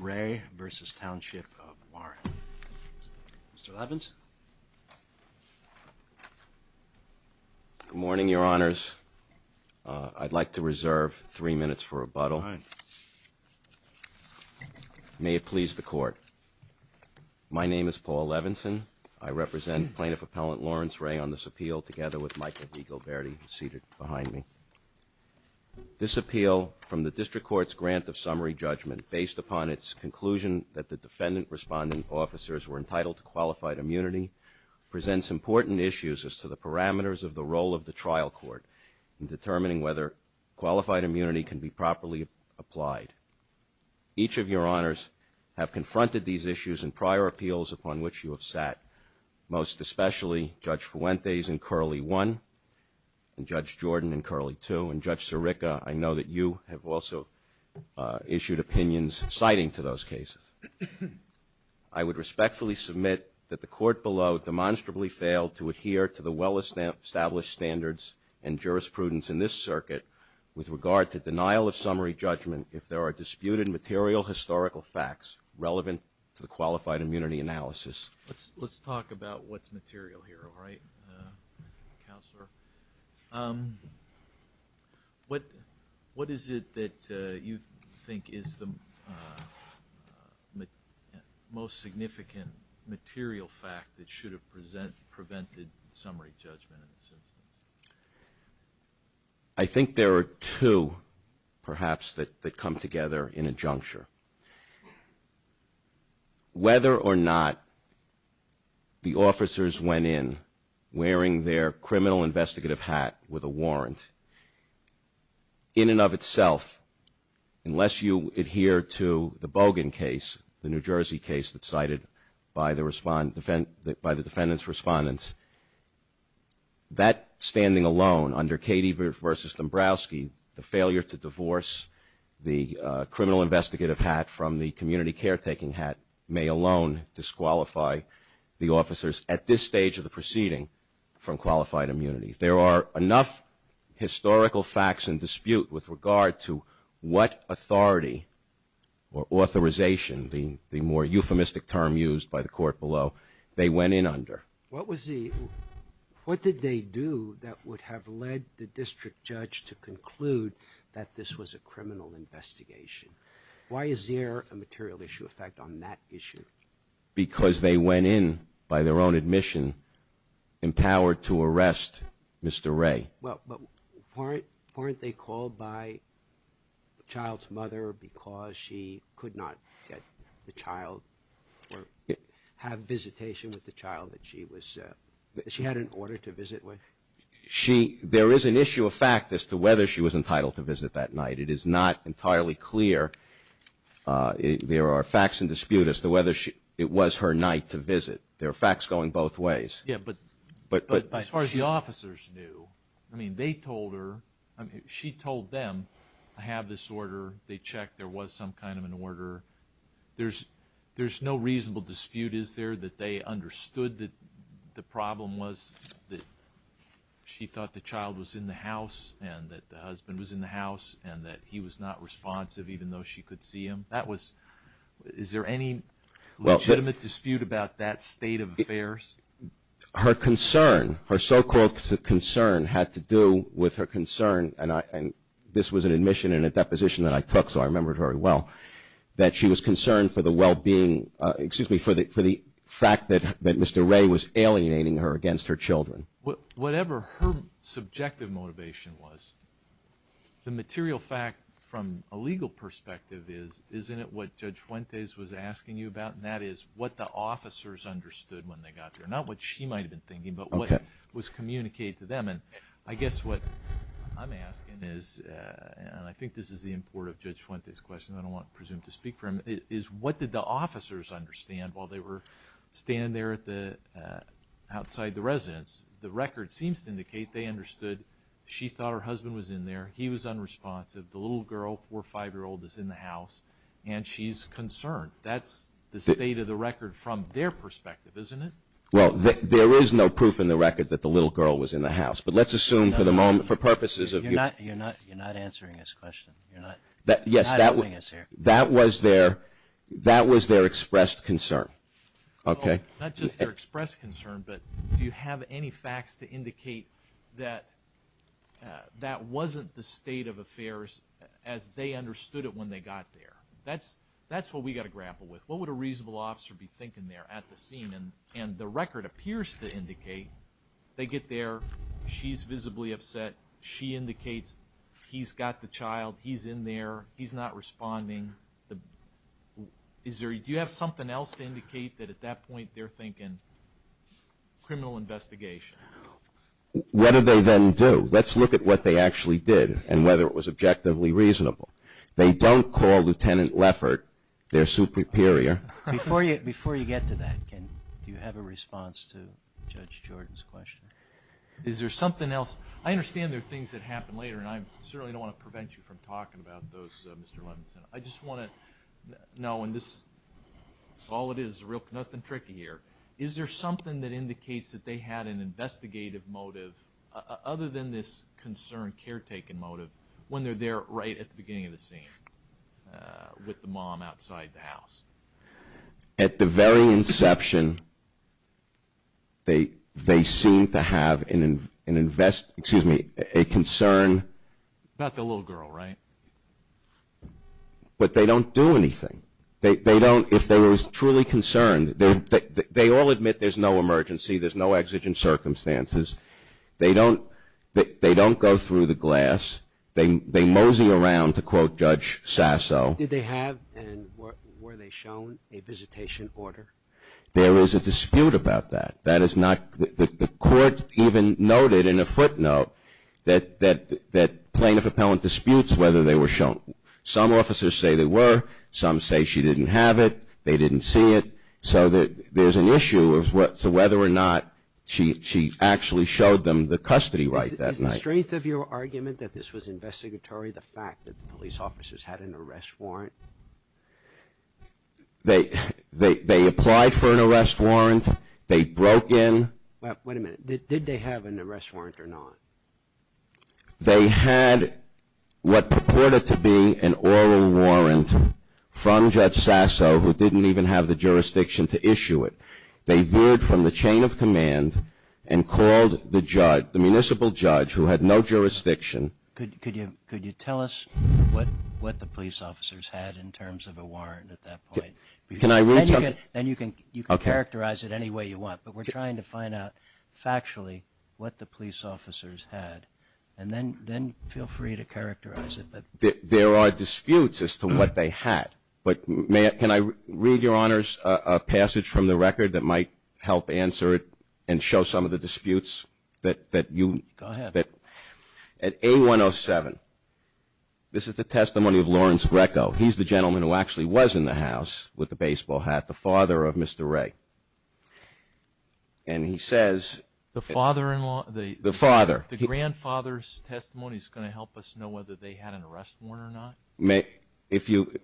Ray v. Township of Warren. Mr. Levinson. Good morning, your honors. I'd like to reserve three minutes for rebuttal. May it please the court. My name is Paul Levinson. I represent Plaintiff Appellant Lawrence Ray on this appeal together with Michael V. Gilberti seated behind me. This appeal from the District Court's grant of summary judgment based upon its conclusion that the defendant responding officers were entitled to qualified immunity presents important issues as to the parameters of the role of the trial court in determining whether qualified immunity can be properly applied. Each of your honors have confronted these issues in the past, especially Judge Fuentes in Curley 1 and Judge Jordan in Curley 2 and Judge Sirica. I know that you have also issued opinions citing to those cases. I would respectfully submit that the court below demonstrably failed to adhere to the well-established standards and jurisprudence in this circuit with regard to denial of summary judgment if there are disputed material historical facts relevant to the qualified immunity analysis. Let's talk about what's material here, all right, Counselor? What is it that you think is the most significant material fact that should have prevented summary judgment in this instance? I think there are two perhaps that come together in a juncture. Whether or not the officers went in wearing their criminal investigative hat with a warrant, in and of itself, unless you adhere to the Bogan case, the New Jersey case that's cited by the defendant's respondents, that standing alone under Cady v. Dombrowski, the failure to divorce the criminal investigative hat from the community caretaking hat may alone disqualify the officers at this stage of the proceeding from qualified immunity. There are enough historical facts in dispute with regard to what authority or authorization, the more euphemistic term used by the court below, they went in under. What was the, what did they do that would have led the district judge to conclude that this was a criminal investigation? Why is there a material issue of fact on that issue? Because they went in by their own admission, empowered to arrest Mr. Ray. Well, but weren't they called by the child's mother because she could not get the child or have visitation with the child that she was, that she had an order to visit with? She, there is an issue of fact as to whether she was entitled to visit that night. It is not entirely clear. There are facts in dispute as to whether it was her night to visit. There are facts going both ways. Yeah, but as far as the officers knew, I mean, they told her, I mean, she told them, I have this order, they checked, there was some kind of an order. There's, there's no reasonable dispute, is there, that they understood that the problem was that she thought the child was in the house and that the husband was in the house and that he was not responsive even though she could see him? That was, is there any legitimate dispute about that state of affairs? Her concern, her so-called concern had to do with her concern, and I, and this was an admission and a deposition that I took so I remember it very well, that she was concerned for the well-being, excuse me, for the fact that Mr. Ray was alienating her against her children. Whatever her subjective motivation was, the material fact from a legal perspective is, isn't it what Judge Fuentes was asking you about, and that is what the officers understood when they got there, not what she might have been thinking, but what was communicated to them. And I guess what I'm asking is, and I think this is the import of Judge Fuentes' question, I don't want Presumed to speak for him, is what did the officers understand while they were standing there at the, outside the residence? The record seems to indicate they understood she thought her husband was in there, he was unresponsive, the little girl, four, five-year-old, is in the house, and she's concerned. That's the state of the record from their perspective, isn't it? Well, there is no proof in the record that the little girl was in the house, but let's assume for the moment, for purposes of... You're not, you're not, you're not answering his question. You're not, you're not doing this here. Yes, that was their, that was their expressed concern. Okay? Not just their expressed concern, but do you have any facts to indicate that that wasn't the state of affairs as they understood it when they got there? That's, that's what we've got to grapple with. What would a reasonable officer be thinking there at the scene? And the record appears to indicate they get there, she's visibly upset, she indicates he's got the child, he's in there, he's not responding. Is there, do you have something else to indicate that at that point they're thinking, criminal investigation? What did they then do? Let's look at what they actually did and whether it was objectively reasonable. They don't call Lieutenant Leffert their superior. Before you, before you get to that, Ken, do you have a response to Judge Jordan's question? Is there something else? I understand there are things that happen later and I certainly don't want to prevent you from talking about those, Mr. Levinson. I just want to know in this, all it is, nothing tricky here, is there something that indicates that they had an investigative motive other than this concern caretaking motive when they're there right at the beginning of the scene with the mom outside the house? At the very inception, they, they seem to have an invest, excuse me, a concern. About the little girl, right? But they don't do anything. They, they don't, if they were truly concerned, they all admit there's no emergency, there's no exigent circumstances. They don't, they don't go through the glass. They, they mosey around to quote Judge Sasso. Did they have and were they shown a visitation order? There is a dispute about that. That is not, the court even noted in a footnote that, that, that plaintiff-appellant disputes whether they were shown. Some officers say they were, some say she didn't have it, they didn't see it. So there's an issue of whether or not she, she actually showed them the custody right that night. Is the strength of your argument that this was investigatory the fact that the police officers had an arrest warrant? They, they, they applied for an arrest warrant. They broke in. Wait a minute. Did they have an arrest warrant or not? They had what purported to be an oral warrant from Judge Sasso who didn't even have the command and called the judge, the municipal judge who had no jurisdiction. Could, could you, could you tell us what, what the police officers had in terms of a warrant at that point? Can I read something? Then you can, you can characterize it any way you want. But we're trying to find out factually what the police officers had. And then, then feel free to characterize it. There are disputes as to what they had. But may I, can I read, Your Honors, a passage from the record that might help answer it and show some of the disputes that, that you... Go ahead. At A107, this is the testimony of Lawrence Greco. He's the gentleman who actually was in the house with the baseball hat, the father of Mr. Ray. And he says... The father-in-law? The father. The grandfather's testimony is going to help us know whether they had an arrest warrant or not? If you...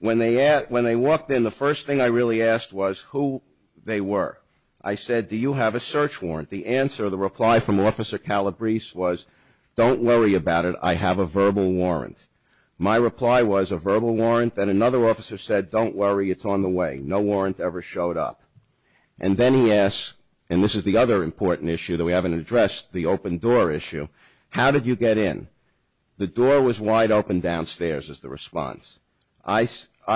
When they asked, when they walked in, the first thing I really asked was who they were. I said, do you have a search warrant? The answer, the reply from Officer Calabrese was, don't worry about it. I have a verbal warrant. My reply was, a verbal warrant? Then another officer said, don't worry. It's on the way. No warrant ever showed up. And then he asked, and this is the other important issue that we haven't addressed, the open door issue. How did you get in? The door was wide open downstairs is the response. I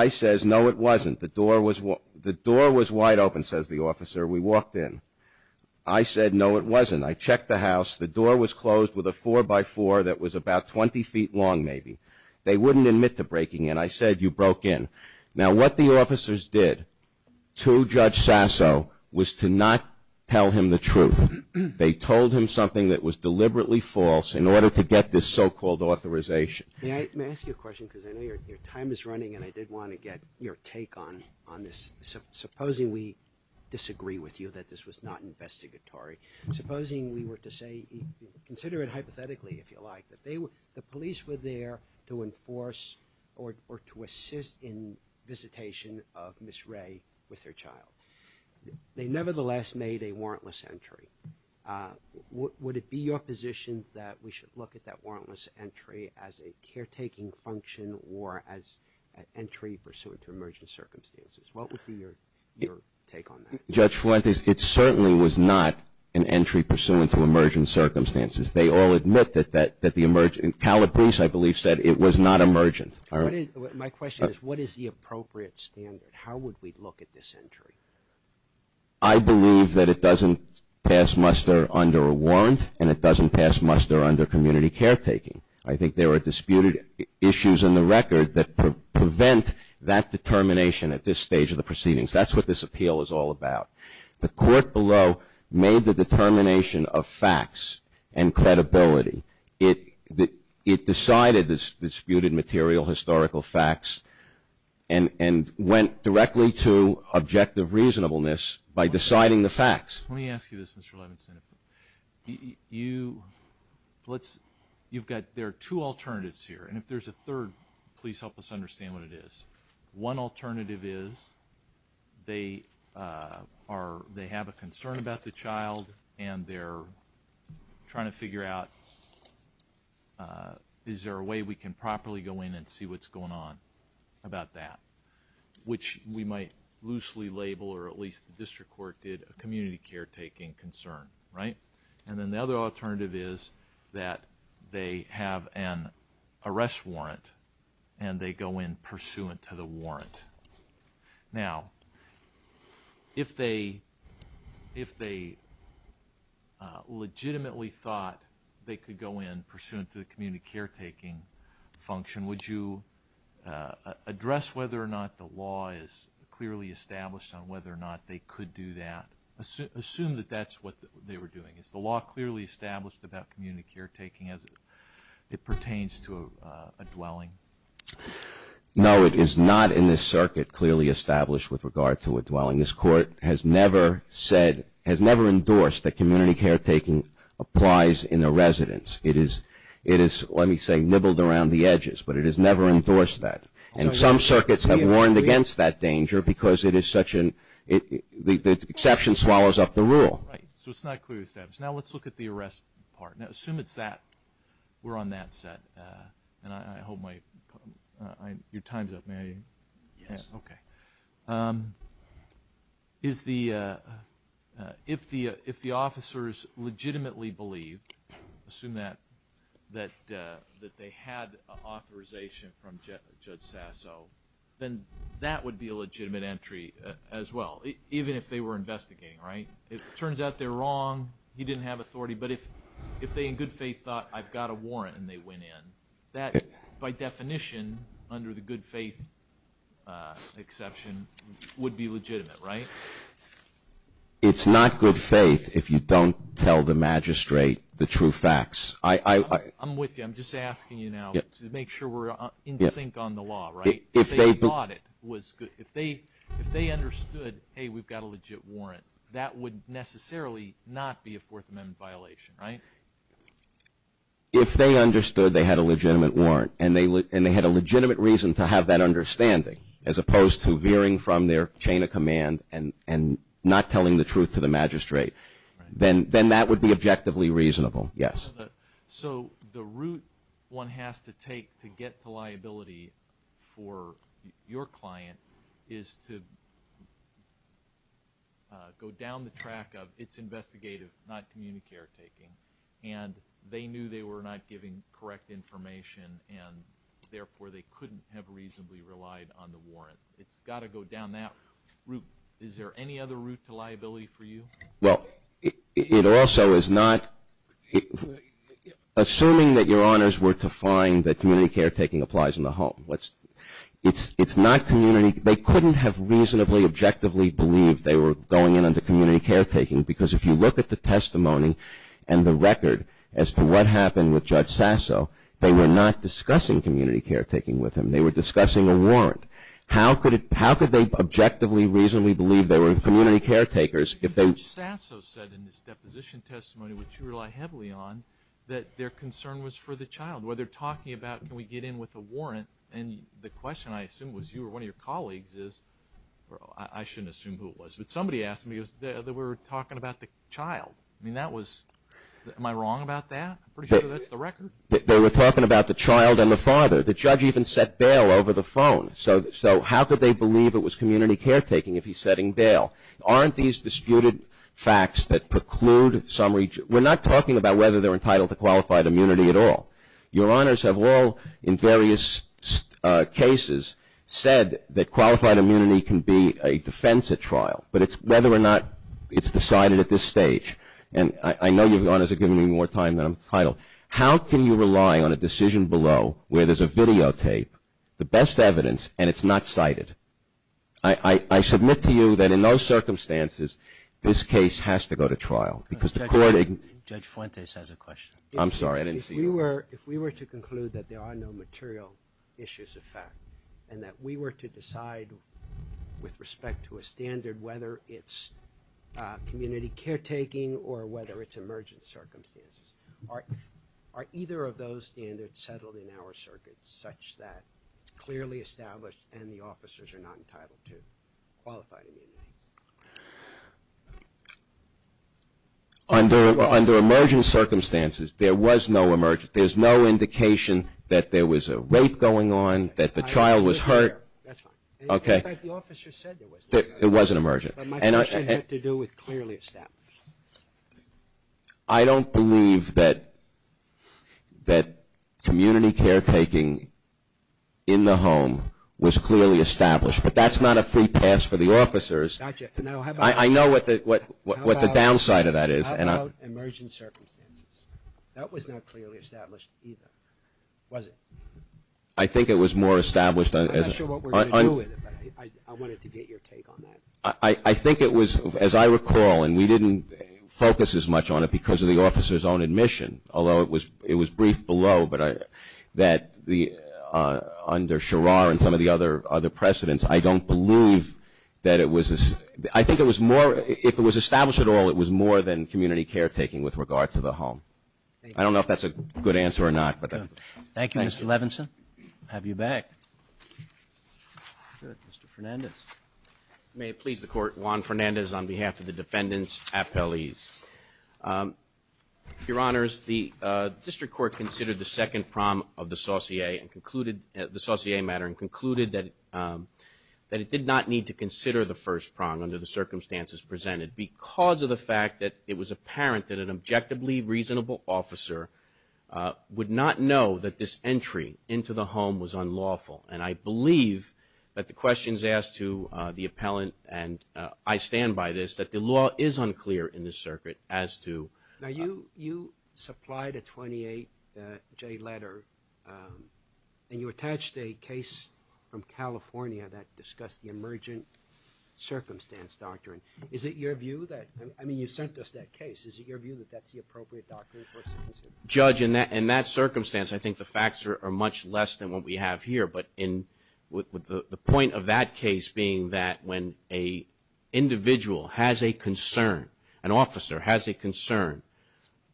says, no, it wasn't. The door was wide open, says the officer. We walked in. I said, no, it wasn't. I checked the house. The door was closed with a four-by-four that was about 20 feet long, maybe. They wouldn't admit to breaking in. I said, you broke in. Now what the officers did to Judge Sasso was to not tell him the truth. They told him something that was deliberately false in order to get this so-called authorization. May I ask you a question? Because I know your time is running and I did want to get your take on this. Supposing we disagree with you that this was not investigatory. Supposing we were to say, consider it hypothetically if you like, that the police were there to enforce or to assist in visitation of Ms. Ray with her child. They nevertheless made a warrantless entry. Would it be your position that we should look at that warrantless entry as a caretaking function or as an entry pursuant to emergent circumstances? What would be your take on that? Judge Fuentes, it certainly was not an entry pursuant to emergent circumstances. They all admit that the emergent, Calabrese I believe said it was not emergent. My question is, what is the appropriate standard? How would we look at this entry? I believe that it doesn't pass muster under a warrant and it doesn't pass muster under community caretaking. I think there are disputed issues in the record that prevent that determination at this stage of the proceedings. That's what this appeal is all about. The court below made the determination of facts and credibility. It decided this disputed material, historical facts and went directly to objective reasonableness by deciding the facts. Let me ask you this, Mr. Levinson. You've got, there are two alternatives here and if there's a third, please help us understand what it is. One alternative is they have a concern about the child and they're trying to figure out is there a way we can properly go in and see what's going on about that, which we might loosely label or at least the district court did a community caretaking concern, right? And then the other alternative is that they have an arrest warrant and they go in pursuant to the warrant. Now, if they legitimately thought they could go in pursuant to the community caretaking function, would you address whether or not the law is clearly established on whether or not they could do that? Assume that that's what they were doing. Is the law clearly established about community caretaking as it pertains to a dwelling? No, it is not in this circuit clearly established with regard to a dwelling. This court has never said, has never endorsed that community caretaking applies in a residence. It is, let me say, nibbled around the edges, but it has never endorsed that. And some circuits have warned against that danger because it is such an, the exception swallows up the rule. Right, so it's not clearly established. Now, let's look at the arrest part. Now, assume it's that, we're on that set, and I hope my, your time's up. May I, okay. Okay. Is the, if the officers legitimately believed, assume that, that they had authorization from Judge Sasso, then that would be a legitimate entry as well, even if they were investigating, right? It turns out they're wrong, he didn't have authority, but if they in good faith thought, I've got a warrant, and they went in. That, by definition, under the good faith exception, would be legitimate, right? It's not good faith if you don't tell the magistrate the true facts. I, I, I. I'm with you. I'm just asking you now to make sure we're in sync on the law, right? If they thought it was good, if they, if they understood, hey, we've got a legit warrant, that would necessarily not be a Fourth Amendment violation, right? If they understood they had a legitimate warrant, and they, and they had a legitimate reason to have that understanding, as opposed to veering from their chain of command and, and not telling the truth to the magistrate, then, then that would be objectively reasonable, yes. So the route one has to take to get the liability for your client is to go down the track of its investigative, not community care taking, and they knew they were not giving correct information, and therefore, they couldn't have reasonably relied on the warrant. It's got to go down that route. Is there any other route to liability for you? Well, it, it also is not, assuming that your honors were to find that community care taking applies in the home. What's, it's, it's not community, they couldn't have reasonably, objectively believed they were going in under community care taking, because if you look at the testimony and the record as to what happened with Judge Sasso, they were not discussing community care taking with him. They were discussing a warrant. How could it, how could they objectively, reasonably believe they were community care takers if they? Judge Sasso said in his deposition testimony, which you rely heavily on, that their concern was for the child, where they're talking about can we get in with a warrant, and the question, I assume, was you or one of your colleagues is, or I, I shouldn't assume who it was, but the child. I mean, that was, am I wrong about that? I'm pretty sure that's the record. They were talking about the child and the father. The judge even set bail over the phone. So, so how could they believe it was community care taking if he's setting bail? Aren't these disputed facts that preclude some, we're not talking about whether they're entitled to qualified immunity at all. Your honors have all, in various cases, said that qualified immunity, it's decided at this stage, and I, I know your honors are giving me more time than I'm entitled. How can you rely on a decision below where there's a videotape, the best evidence, and it's not cited? I, I, I submit to you that in those circumstances, this case has to go to trial, because the court. Judge Fuentes has a question. I'm sorry, I didn't see you. If we were, if we were to conclude that there are no material issues of fact, and that we were to decide with respect to a standard, whether it's community care taking or whether it's emergent circumstances, are, are either of those standards settled in our circuit such that it's clearly established and the officers are not entitled to qualified immunity? Under, under emergent circumstances, there was no emergent, there's no indication that there was a rape going on, that the child was hurt. That's fine. Okay. In fact, the officer said there was no emergent. It wasn't emergent. But my question had to do with clearly established. I don't believe that, that community care taking in the home was clearly established, but that's not a free pass for the officers. Gotcha. Now, how about... I, I know what the, what, what the downside of that is, and I... It's not clearly established either, was it? I think it was more established as... I'm not sure what we're going to do with it, but I, I wanted to get your take on that. I, I think it was, as I recall, and we didn't focus as much on it because of the officer's own admission, although it was, it was brief below, but I, that the, under Sherar and some of the other, other precedents, I don't believe that it was, I think it was more, if it was established at all, it was more than community care taking with regard to the home. I don't know if that's a good answer or not, but that's... Thank you, Mr. Levinson. Thank you. Have you back. Good. Mr. Fernandez. May it please the Court, Juan Fernandez on behalf of the defendants' appellees. Your Honors, the District Court considered the second prong of the saucier and concluded, the saucier matter, and concluded that, that it did not need to consider the first prong under the circumstances presented because of the fact that it was apparent that an objectively reasonable officer would not know that this entry into the home was unlawful, and I believe that the questions asked to the appellant, and I stand by this, that the law is unclear in this circuit as to... Now, you, you supplied a 28-J letter, and you attached a case from California that discussed the emergent circumstance doctrine. Is it your view that, I mean, you sent us that case. Is it your view that that's the appropriate doctrine for us to consider? Judge, in that, in that circumstance, I think the facts are much less than what we have here, but in, with the, the point of that case being that when a individual has a concern, an officer has a concern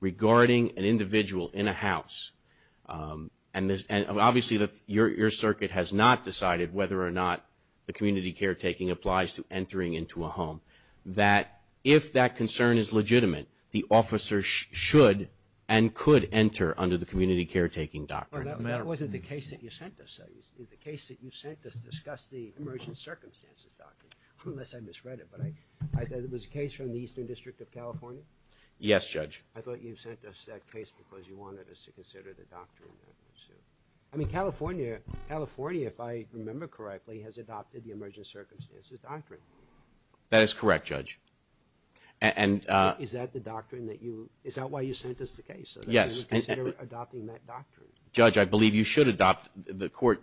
regarding an individual in a house, and this, and obviously the, your, your circuit has not decided whether or not the community caretaking applies to entering into a home, that if that concern is legitimate, the officer should and could enter under the community caretaking doctrine. Well, that, that wasn't the case that you sent us, is the case that you sent us discussed the emergent circumstances doctrine, unless I misread it, but I, I thought it was a case from the Eastern District of California? Yes, Judge. I thought you sent us that case because you wanted us to consider the doctrine, so. I mean, California, California, if I remember correctly, has adopted the emergent circumstances doctrine. That is correct, Judge. And uh. Is that the doctrine that you, is that why you sent us the case? Yes. So, that you consider adopting that doctrine? Judge, I believe you should adopt, the court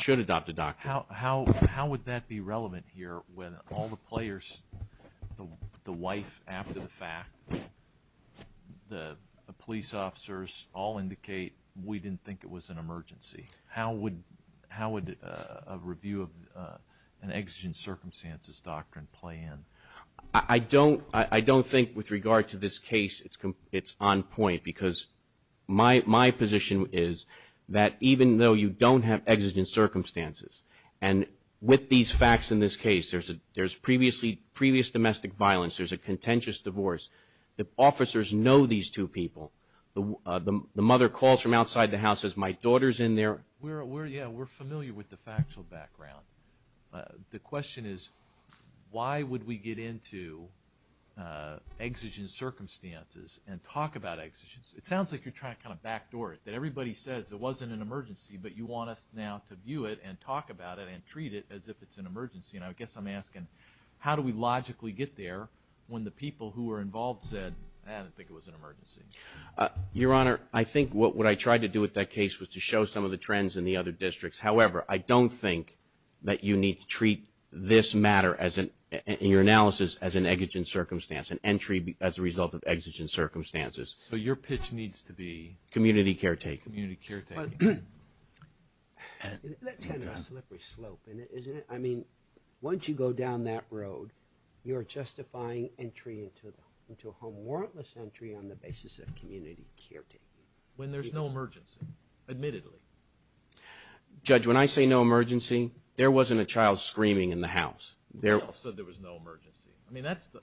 should adopt the doctrine. How, how, how would that be relevant here when all the players, the wife after the fact, the police officers all indicate we didn't think it was an emergency? How would, how would a review of an exigent circumstances doctrine play in? I don't, I don't think with regard to this case, it's on point because my, my position is that even though you don't have exigent circumstances, and with these facts in this case, there's a, there's previously, previous domestic violence, there's a contentious divorce, the officers know these two people, the mother calls from outside the house, says my daughter's in there. We're, we're, yeah, we're familiar with the factual background. The question is, why would we get into exigent circumstances and talk about exigents? It sounds like you're trying to kind of backdoor it, that everybody says it wasn't an emergency, but you want us now to view it and talk about it and treat it as if it's an emergency. And I guess I'm asking, how do we logically get there when the people who were involved said I didn't think it was an emergency? Your Honor, I think what I tried to do with that case was to show some of the trends in the other districts. However, I don't think that you need to treat this matter as an, in your analysis, as an exigent circumstance, an entry as a result of exigent circumstances. So your pitch needs to be? Community caretaking. Community caretaking. But, that's kind of a slippery slope, isn't it? I mean, once you go down that road, you're justifying entry into, into a home warrantless entry on the basis of community caretaking. When there's no emergency, admittedly. Judge, when I say no emergency, there wasn't a child screaming in the house. There was no emergency. I mean, that's the,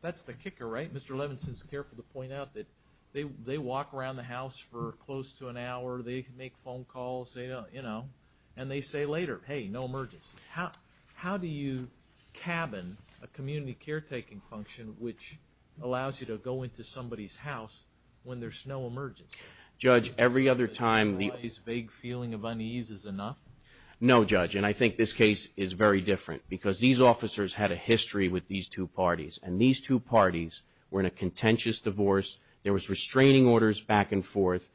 that's the kicker, right? Mr. Levinson is careful to point out that they, they walk around the house for close to an hour. They make phone calls, you know, and they say later, hey, no emergency. How do you cabin a community caretaking function, which allows you to go into somebody's house when there's no emergency? Judge, every other time, the. This vague feeling of unease is enough? No, Judge. And I think this case is very different, because these officers had a history with these two parties. And these two parties were in a contentious divorce. There was restraining orders back and forth.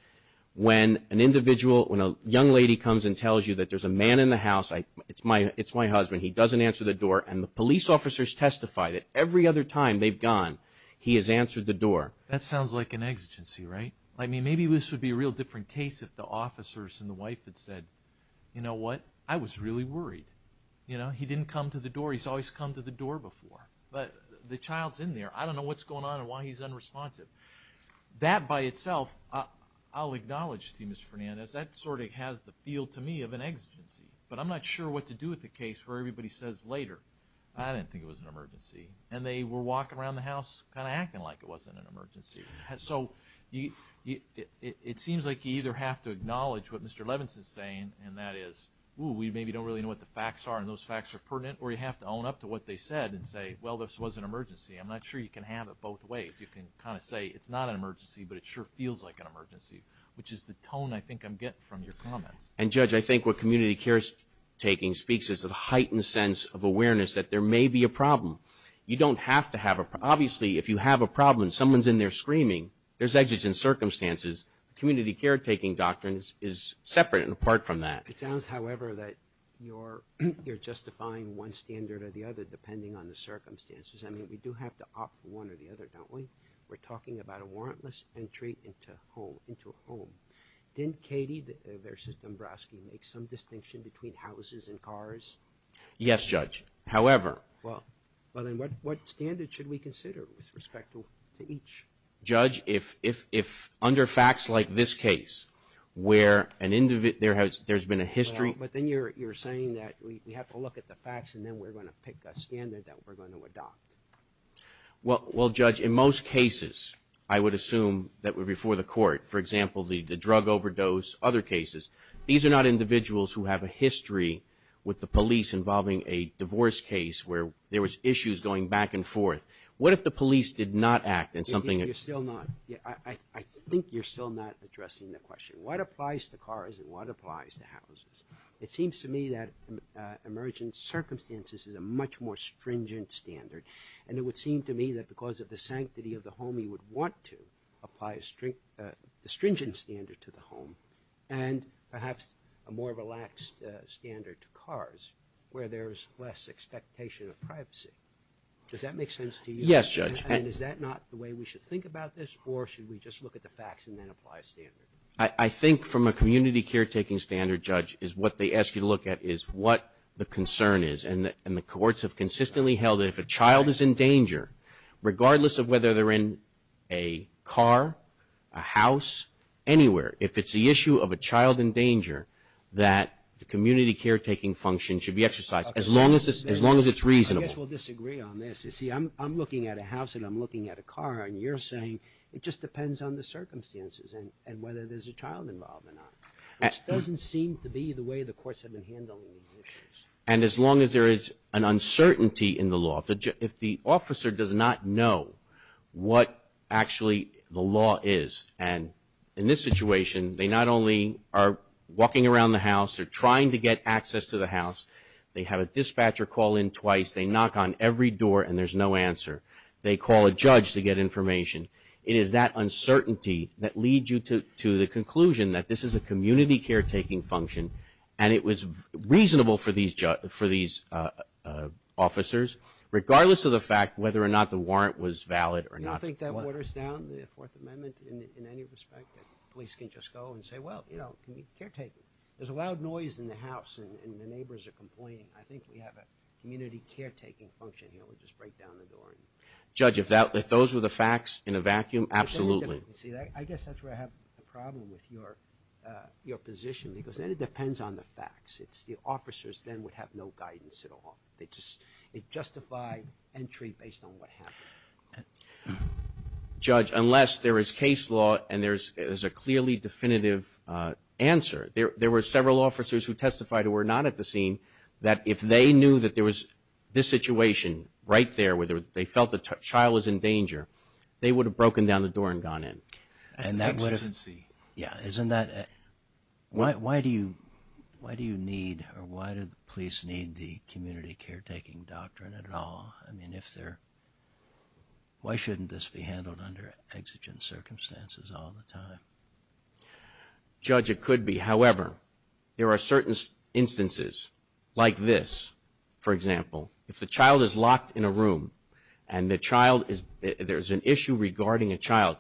When an individual, when a young lady comes and tells you that there's a man in the house, I, it's my, it's my husband. He doesn't answer the door. And the police officers testify that every other time they've gone, he has answered the door. That sounds like an exigency, right? I mean, maybe this would be a real different case if the officers and the wife had said, you know what? I was really worried. You know? He didn't come to the door. He's always come to the door before. But the child's in there. I don't know what's going on and why he's unresponsive. That by itself, I'll acknowledge to you, Mr. Fernandez, that sort of has the feel to me of an exigency. But I'm not sure what to do with the case where everybody says later, I didn't think it was an emergency. And they were walking around the house kind of acting like it wasn't an emergency. So you, it seems like you either have to acknowledge what Mr. Levinson's saying, and that is, ooh, we maybe don't really know what the facts are and those facts are pertinent, or you have to own up to what they said and say, well, this was an emergency. I'm not sure you can have it both ways. You can kind of say, it's not an emergency, but it sure feels like an emergency, which is the tone I think I'm getting from your comments. And Judge, I think what community care taking speaks is a heightened sense of awareness that there may be a problem. You don't have to have a, obviously, if you have a problem and someone's in there screaming, there's exits and circumstances. Community care taking doctrines is separate and apart from that. It sounds, however, that you're justifying one standard or the other depending on the circumstances. I mean, we do have to opt for one or the other, don't we? We're talking about a warrantless entry into a home. Didn't Katie versus Dombrowski make some distinction between houses and cars? Yes, Judge. However... Well, then what standard should we consider with respect to each? Judge, if under facts like this case, where there's been a history... But then you're saying that we have to look at the facts and then we're going to pick a standard that we're going to adopt. Well, Judge, in most cases, I would assume that would be before the court. For example, the drug overdose, other cases. These are not individuals who have a history with the police involving a divorce case where there was issues going back and forth. What if the police did not act in something... You're still not. I think you're still not addressing the question. What applies to cars and what applies to houses? It seems to me that emergent circumstances is a much more stringent standard. And it would seem to me that because of the sanctity of the home, you would want to apply a stringent standard to the home and perhaps a more relaxed standard to cars where there's less expectation of privacy. Does that make sense to you? Yes, Judge. And is that not the way we should think about this? Or should we just look at the facts and then apply a standard? I think from a community caretaking standard, Judge, is what they ask you to look at is what the concern is. And the courts have consistently held that if a child is in danger, regardless of whether they're in a car, a house, anywhere, if it's the issue of a child in danger, that the community caretaking function should be exercised as long as it's reasonable. I guess we'll disagree on this. You see, I'm looking at a house and I'm looking at a car and you're saying it just depends on the circumstances and whether there's a child involved or not, which doesn't seem to be the way the courts have been handling these issues. And as long as there is an uncertainty in the law, if the officer does not know what actually the law is, and in this situation, they not only are walking around the house, they're trying to get access to the house, they have a dispatcher call in twice, they knock on every door and there's no answer, they call a judge to get information, it is that uncertainty that leads you to the conclusion that this is a community caretaking function and it was reasonable for these officers, regardless of the fact whether or not the warrant was valid or not. You don't think that waters down the Fourth Amendment in any respect, that police can just go and say, well, you know, community caretaking. There's a loud noise in the house and the neighbors are complaining. I think we have a community caretaking function here, we'll just break down the door. Judge, if those were the facts in a vacuum, absolutely. I guess that's where I have a problem with your position, because then it depends on the facts. It's the officers then would have no guidance at all. It justified entry based on what happened. Judge, unless there is case law and there's a clearly definitive answer, there were several officers who testified who were not at the scene, that if they knew that there was this situation right there where they felt the child was in danger, they would have broken down the door and gone in. Exigency. Yeah. Why do you need or why do the police need the community caretaking doctrine at all? Why shouldn't this be handled under exigent circumstances all the time? Judge, it could be. However, there are certain instances like this, for example, if the child is locked in a room and there's an issue regarding a child,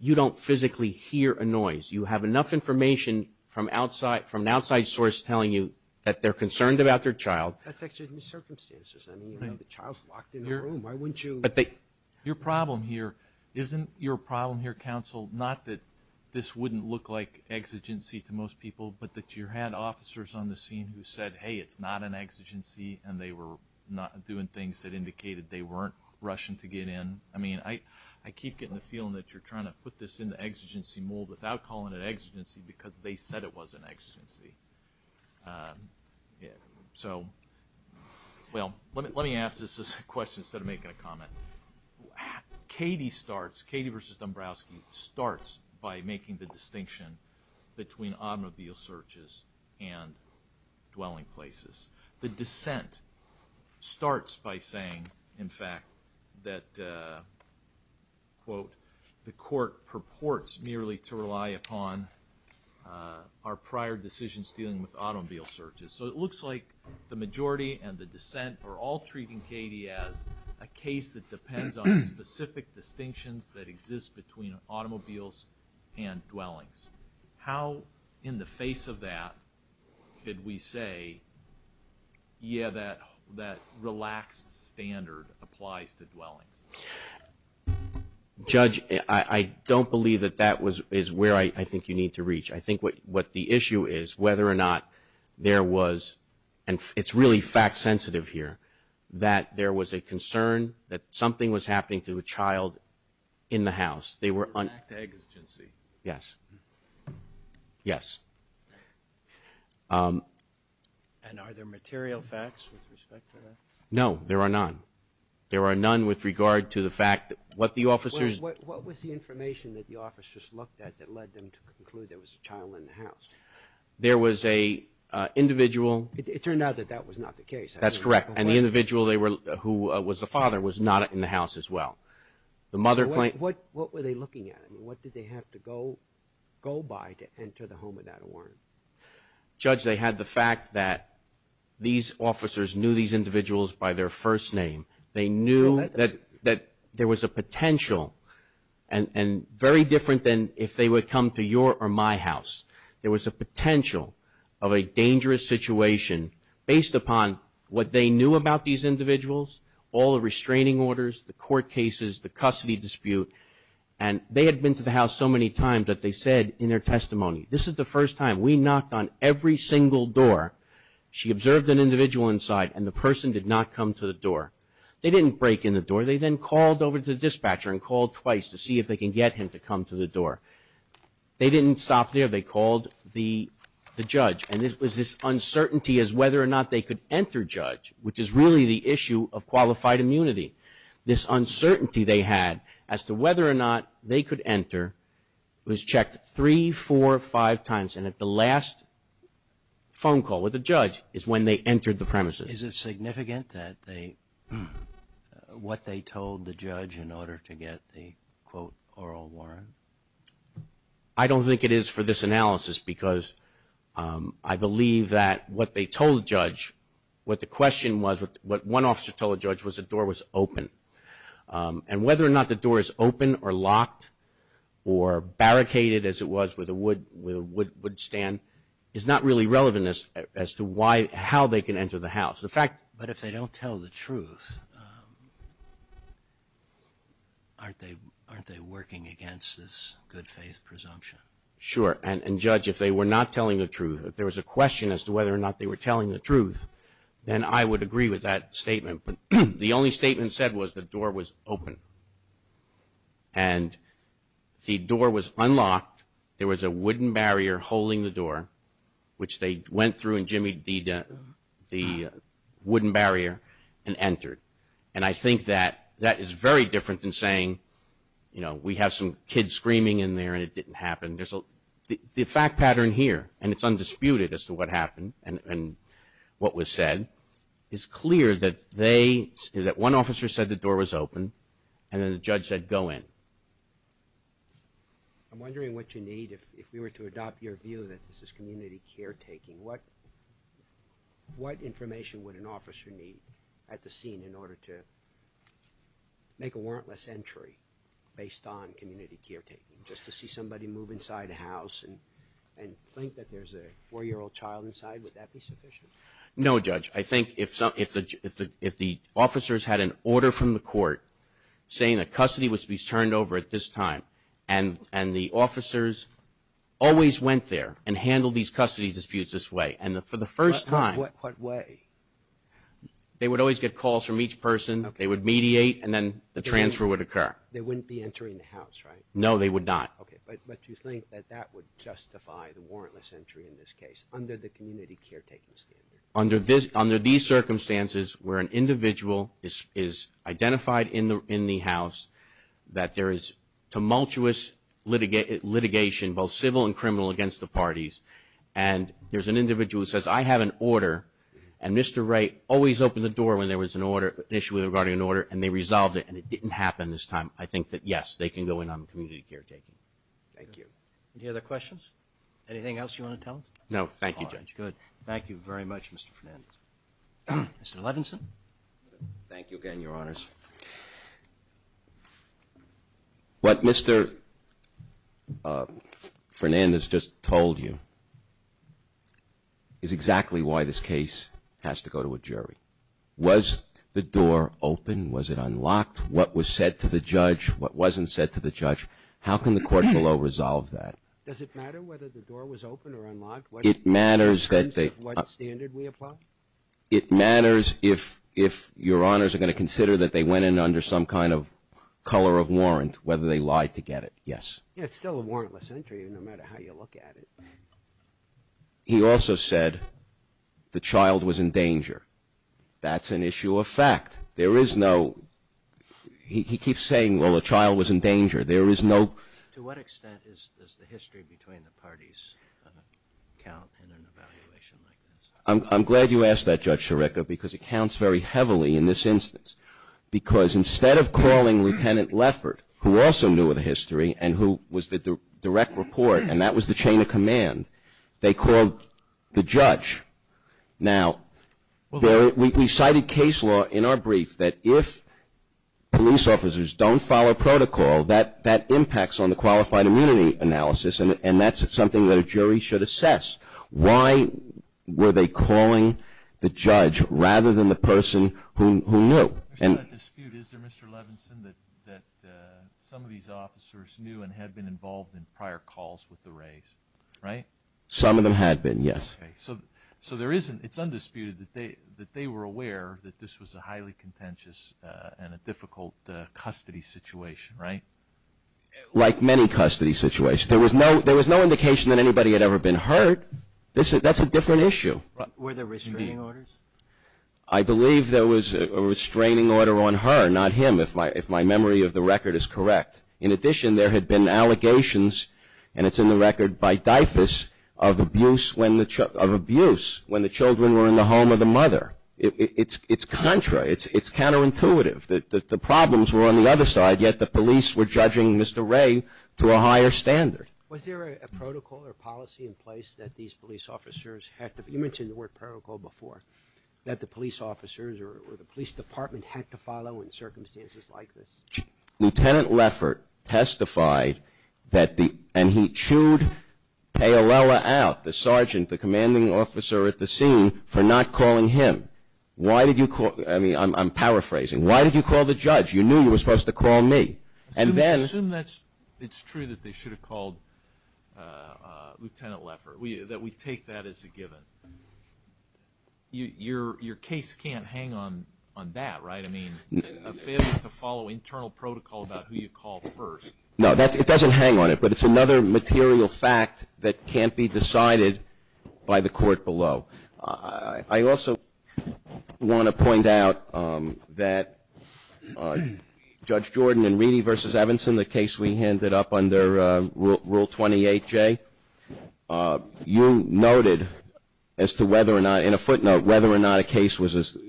you don't physically hear a noise. You have enough information from an outside source telling you that they're concerned about their child. That's exigent circumstances. I mean, the child's locked in a room. Why wouldn't you? Your problem here, isn't your problem here, counsel, not that this wouldn't look like exigency to most people, but that you had officers on the scene who said, hey, it's not an exigency, and they were doing things that indicated they weren't rushing to get in. I mean, I keep getting the feeling that you're trying to put this into exigency mold without calling it exigency because they said it was an exigency. So well, let me ask this question instead of making a comment. Katie starts, Katie versus Dombrowski, starts by making the distinction between automobile searches and dwelling places. The dissent starts by saying, in fact, that, quote, the court purports merely to rely upon our prior decisions dealing with automobile searches. So it looks like the majority and the dissent are all treating Katie as a case that depends on specific distinctions that exist between automobiles and dwellings. How, in the face of that, could we say, yeah, that relaxed standard applies to dwellings? Judge, I don't believe that that is where I think you need to reach. I think what the issue is, whether or not there was, and it's really fact-sensitive here, that there was a concern that something was happening to a child in the house, they Yes. And are there material facts with respect to that? No, there are none. There are none with regard to the fact that what the officers What was the information that the officers looked at that led them to conclude there was a child in the house? There was a individual It turned out that that was not the case. That's correct. And the individual who was the father was not in the house as well. The mother claimed What were they looking at? What did they have to go by to enter the home without a warrant? Judge, they had the fact that these officers knew these individuals by their first name. They knew that there was a potential, and very different than if they would come to your or my house, there was a potential of a dangerous situation based upon what they knew about these individuals, all the restraining orders, the court cases, the custody dispute, and they had been to the house so many times that they said in their testimony, this is the first time we knocked on every single door. She observed an individual inside and the person did not come to the door. They didn't break in the door. They then called over to the dispatcher and called twice to see if they can get him to come to the door. They didn't stop there. They called the judge and this was this uncertainty as whether or not they could enter judge, which is really the issue of qualified immunity. This uncertainty they had as to whether or not they could enter was checked 3, 4, 5 times and at the last phone call with the judge is when they entered the premises. Is it significant that they, what they told the judge in order to get the quote oral warrant? I don't think it is for this analysis because I believe that what they told judge, what the question was, what one officer told judge was the door was open and whether or not the door is open or locked or barricaded as it was with a wood, with a wood stand is not really relevant as to why, how they can enter the house. In fact, but if they don't tell the truth, aren't they, aren't they working against this good faith presumption? Sure and judge, if they were not telling the truth, if there was a question as to whether or not they were telling the truth, then I would agree with that statement. The only statement said was the door was open and the door was unlocked, there was a wooden barrier holding the door, which they went through and jimmied the wooden barrier and entered and I think that, that is very different than saying, you know, we have some kids screaming in there and it didn't happen. There's a, the fact pattern here and it's undisputed as to what happened and what was said is clear that they, that one officer said the door was open and then the judge said go in. I'm wondering what you need if we were to adopt your view that this is community caretaking. What information would an officer need at the scene in order to make a warrantless entry based on community caretaking, just to see somebody move inside a house and think that there's a four-year-old child inside, would that be sufficient? No judge, I think if the officers had an order from the court saying a custody was to be turned over at this time and the officers always went there and handled these custody disputes this way and for the first time. What way? They would always get calls from each person, they would mediate and then the transfer would happen. They wouldn't be entering the house, right? No, they would not. Okay, but you think that that would justify the warrantless entry in this case under the community caretaking standard? Under these circumstances where an individual is identified in the house, that there is tumultuous litigation, both civil and criminal, against the parties and there's an individual who says, I have an order and Mr. Wray always opened the door when there was an issue regarding an order and they resolved it and it didn't happen this time, I think that yes, they can go in on community caretaking. Thank you. Any other questions? Anything else you want to tell us? No. Thank you, Judge. Good. Thank you very much, Mr. Fernandez. Mr. Levinson? Thank you again, Your Honors. What Mr. Fernandez just told you is exactly why this case has to go to a jury. Was the door open? Was it unlocked? What was said to the judge? What wasn't said to the judge? How can the court below resolve that? Does it matter whether the door was open or unlocked? It matters that they... In terms of what standard we apply? It matters if Your Honors are going to consider that they went in under some kind of color of warrant, whether they lied to get it. Yes. Yeah, it's still a warrantless entry no matter how you look at it. He also said the child was in danger. That's an issue of fact. There is no... He keeps saying, well, the child was in danger. There is no... To what extent does the history between the parties count in an evaluation like this? I'm glad you asked that, Judge Scirecca, because it counts very heavily in this instance. Because instead of calling Lieutenant Leffert, who also knew of the history and who was the direct report, and that was the chain of command, they called the judge. Now, we cited case law in our brief that if police officers don't follow protocol, that impacts on the qualified immunity analysis, and that's something that a jury should assess. Why were they calling the judge rather than the person who knew? There's not a dispute, is there, Mr. Levinson, that some of these officers knew and had been involved in prior calls with the Rays, right? Some of them had been, yes. So there isn't... It's undisputed that they were aware that this was a highly contentious and a difficult custody situation, right? Like many custody situations. There was no indication that anybody had ever been hurt. That's a different issue. Were there restraining orders? I believe there was a restraining order on her, not him, if my memory of the record is correct. In addition, there had been allegations, and it's in the record, by Dyfus of abuse when the children were in the home of the mother. It's contrary. It's counterintuitive. The problems were on the other side, yet the police were judging Mr. Ray to a higher standard. Was there a protocol or policy in place that these police officers had to... You mentioned the word protocol before, that the police officers or the police department had to follow in circumstances like this. Lieutenant Leffert testified that the... And he chewed Payolella out, the sergeant, the commanding officer at the scene, for not calling him. Why did you call... I mean, I'm paraphrasing. Why did you call the judge? You knew you were supposed to call me. And then... Assume that's... It's true that they should have called Lieutenant Leffert. That we take that as a given. Your case can't hang on that, right? I mean, a failure to follow internal protocol about who you call first... No, it doesn't hang on it, but it's another material fact that can't be decided by the court below. I also want to point out that Judge Jordan and Reedy v. Evanson, the case we handed up under Rule 28J, you noted as to whether or not... In a footnote, whether or not a case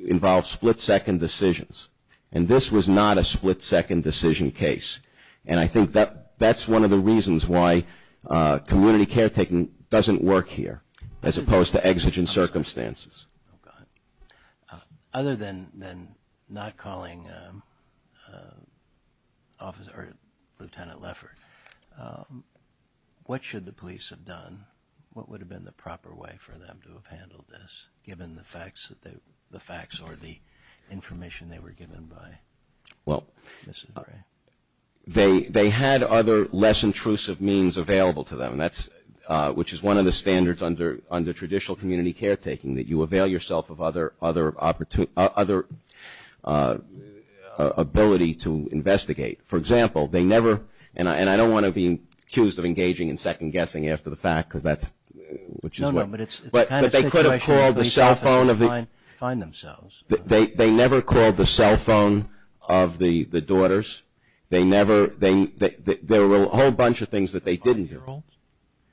involved split-second decisions. And this was not a split-second decision case. And I think that's one of the reasons why community caretaking doesn't work here, as opposed to exigent circumstances. Other than not calling Lieutenant Leffert, what should the police have done? What would have been the proper way for them to have handled this, given the facts or the information they were given by Mrs. Gray? They had other, less intrusive means available to them, which is one of the standards under traditional community caretaking, that you avail yourself of other ability to investigate. For example, they never... And I don't want to be accused of engaging in second-guessing after the fact, because that's... No, no, but it's a kind of situation... But they could have called the cell phone of the... ...find themselves. They never called the cell phone of the daughters. They never... There were a whole bunch of things that they didn't do. They struggled,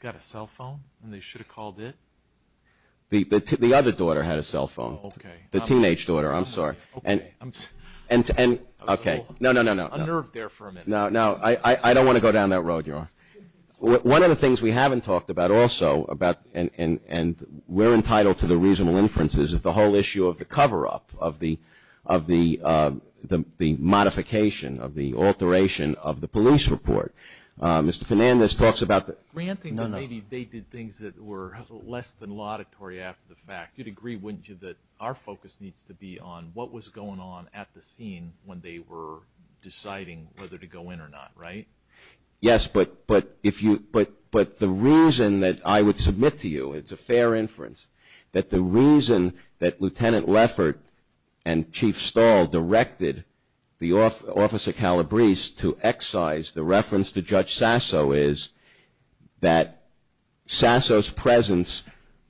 got a cell phone, and they should have called it? The other daughter had a cell phone. Oh, okay. The teenage daughter. I'm sorry. Okay. And... Okay. No, no, no, no. I'm a little unnerved there for a minute. No, no. I don't want to go down that road, Your Honor. One of the things we haven't talked about also, and we're entitled to the reasonable inferences, is the whole issue of the cover-up, of the modification, of the alteration of the police report. Mr. Fernandez talks about the... Granting that maybe they did things that were less than laudatory after the fact, you'd agree, wouldn't you, that our focus needs to be on what was going on at the scene when they were deciding whether to go in or not, right? Yes, but the reason that I would submit to you, it's a fair inference, that the reason that Lieutenant Leffert and Chief Stahl directed the Office of Calabrese to excise the reference to Judge Sasso is that Sasso's presence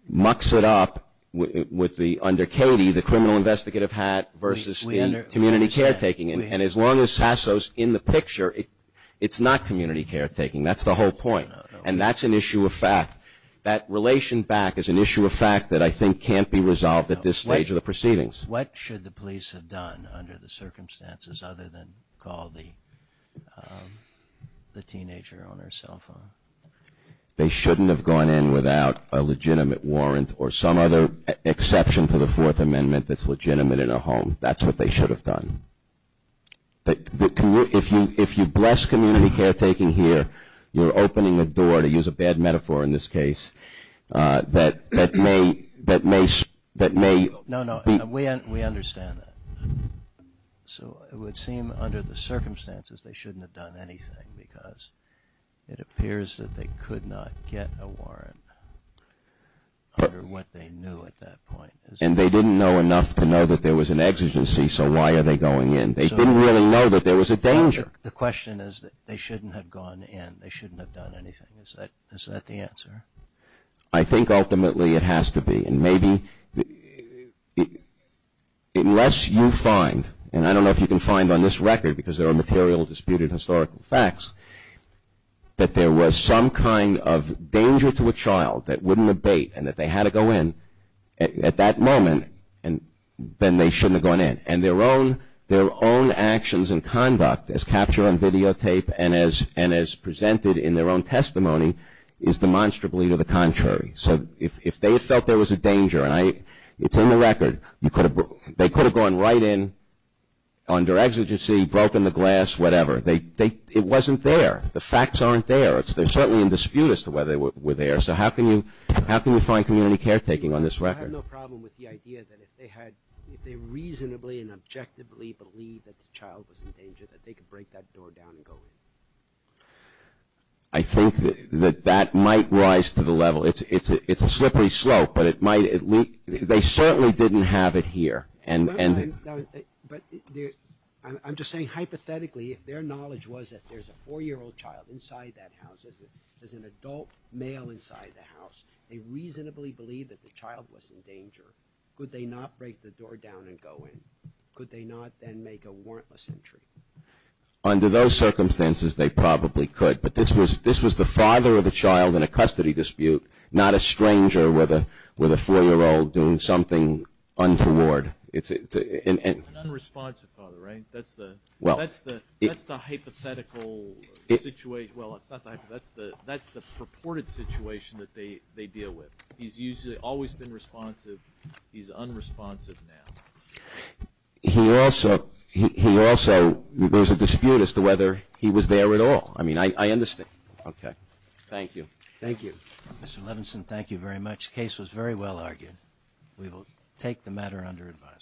mucks it up with the, under Katie, the criminal investigative hat versus the community caretaking. And as long as Sasso's in the picture, it's not community caretaking. That's the whole point. No, no, no. And that's an issue of fact. That relation back is an issue of fact that I think can't be resolved at this stage of the proceedings. What should the police have done under the circumstances other than call the teenager on her cell phone? They shouldn't have gone in without a legitimate warrant or some other exception to the Fourth Amendment that's legitimate in a home. That's what they should have done. If you bless community caretaking here, you're opening a door, to use a bad metaphor in this case, that may... No, no. We understand that. So it would seem under the circumstances, they shouldn't have done anything because it appears that they could not get a warrant under what they knew at that point. And they didn't know enough to know that there was an exigency, so why are they going in? They didn't really know that there was a danger. The question is that they shouldn't have gone in. They shouldn't have done anything. Is that the answer? I think ultimately it has to be. Unless you find, and I don't know if you can find on this record because there are material disputed historical facts, that there was some kind of danger to a child that wouldn't abate and that they had to go in at that moment, then they shouldn't have gone in. Their own actions and conduct as captured on videotape and as presented in their own testimony is demonstrably to the contrary. So if they had felt there was a danger, and it's in the record, they could have gone right in under exigency, broken the glass, whatever. It wasn't there. The facts aren't there. They're certainly in dispute as to whether they were there. So how can you find community caretaking on this record? I have no problem with the idea that if they reasonably and objectively believe that the child was in danger, that they could break that door down and go in. I think that that might rise to the level. It's a slippery slope, but they certainly didn't have it here. But I'm just saying hypothetically, if their knowledge was that there's a four-year-old child inside that house, there's an adult male inside the house, they reasonably believe that the child was in danger, could they not break the door down and go in? Could they not then make a warrantless entry? Under those circumstances, they probably could. But this was the father of the child in a custody dispute, not a stranger with a four-year-old doing something untoward. An unresponsive father, right? That's the hypothetical situation. Well, that's the purported situation that they deal with. He's usually always been responsive. He's unresponsive now. He also – there's a dispute as to whether he was there at all. I mean, I understand. Okay. Thank you. Thank you. Mr. Levinson, thank you very much. The case was very well argued. We will take the matter under advisement.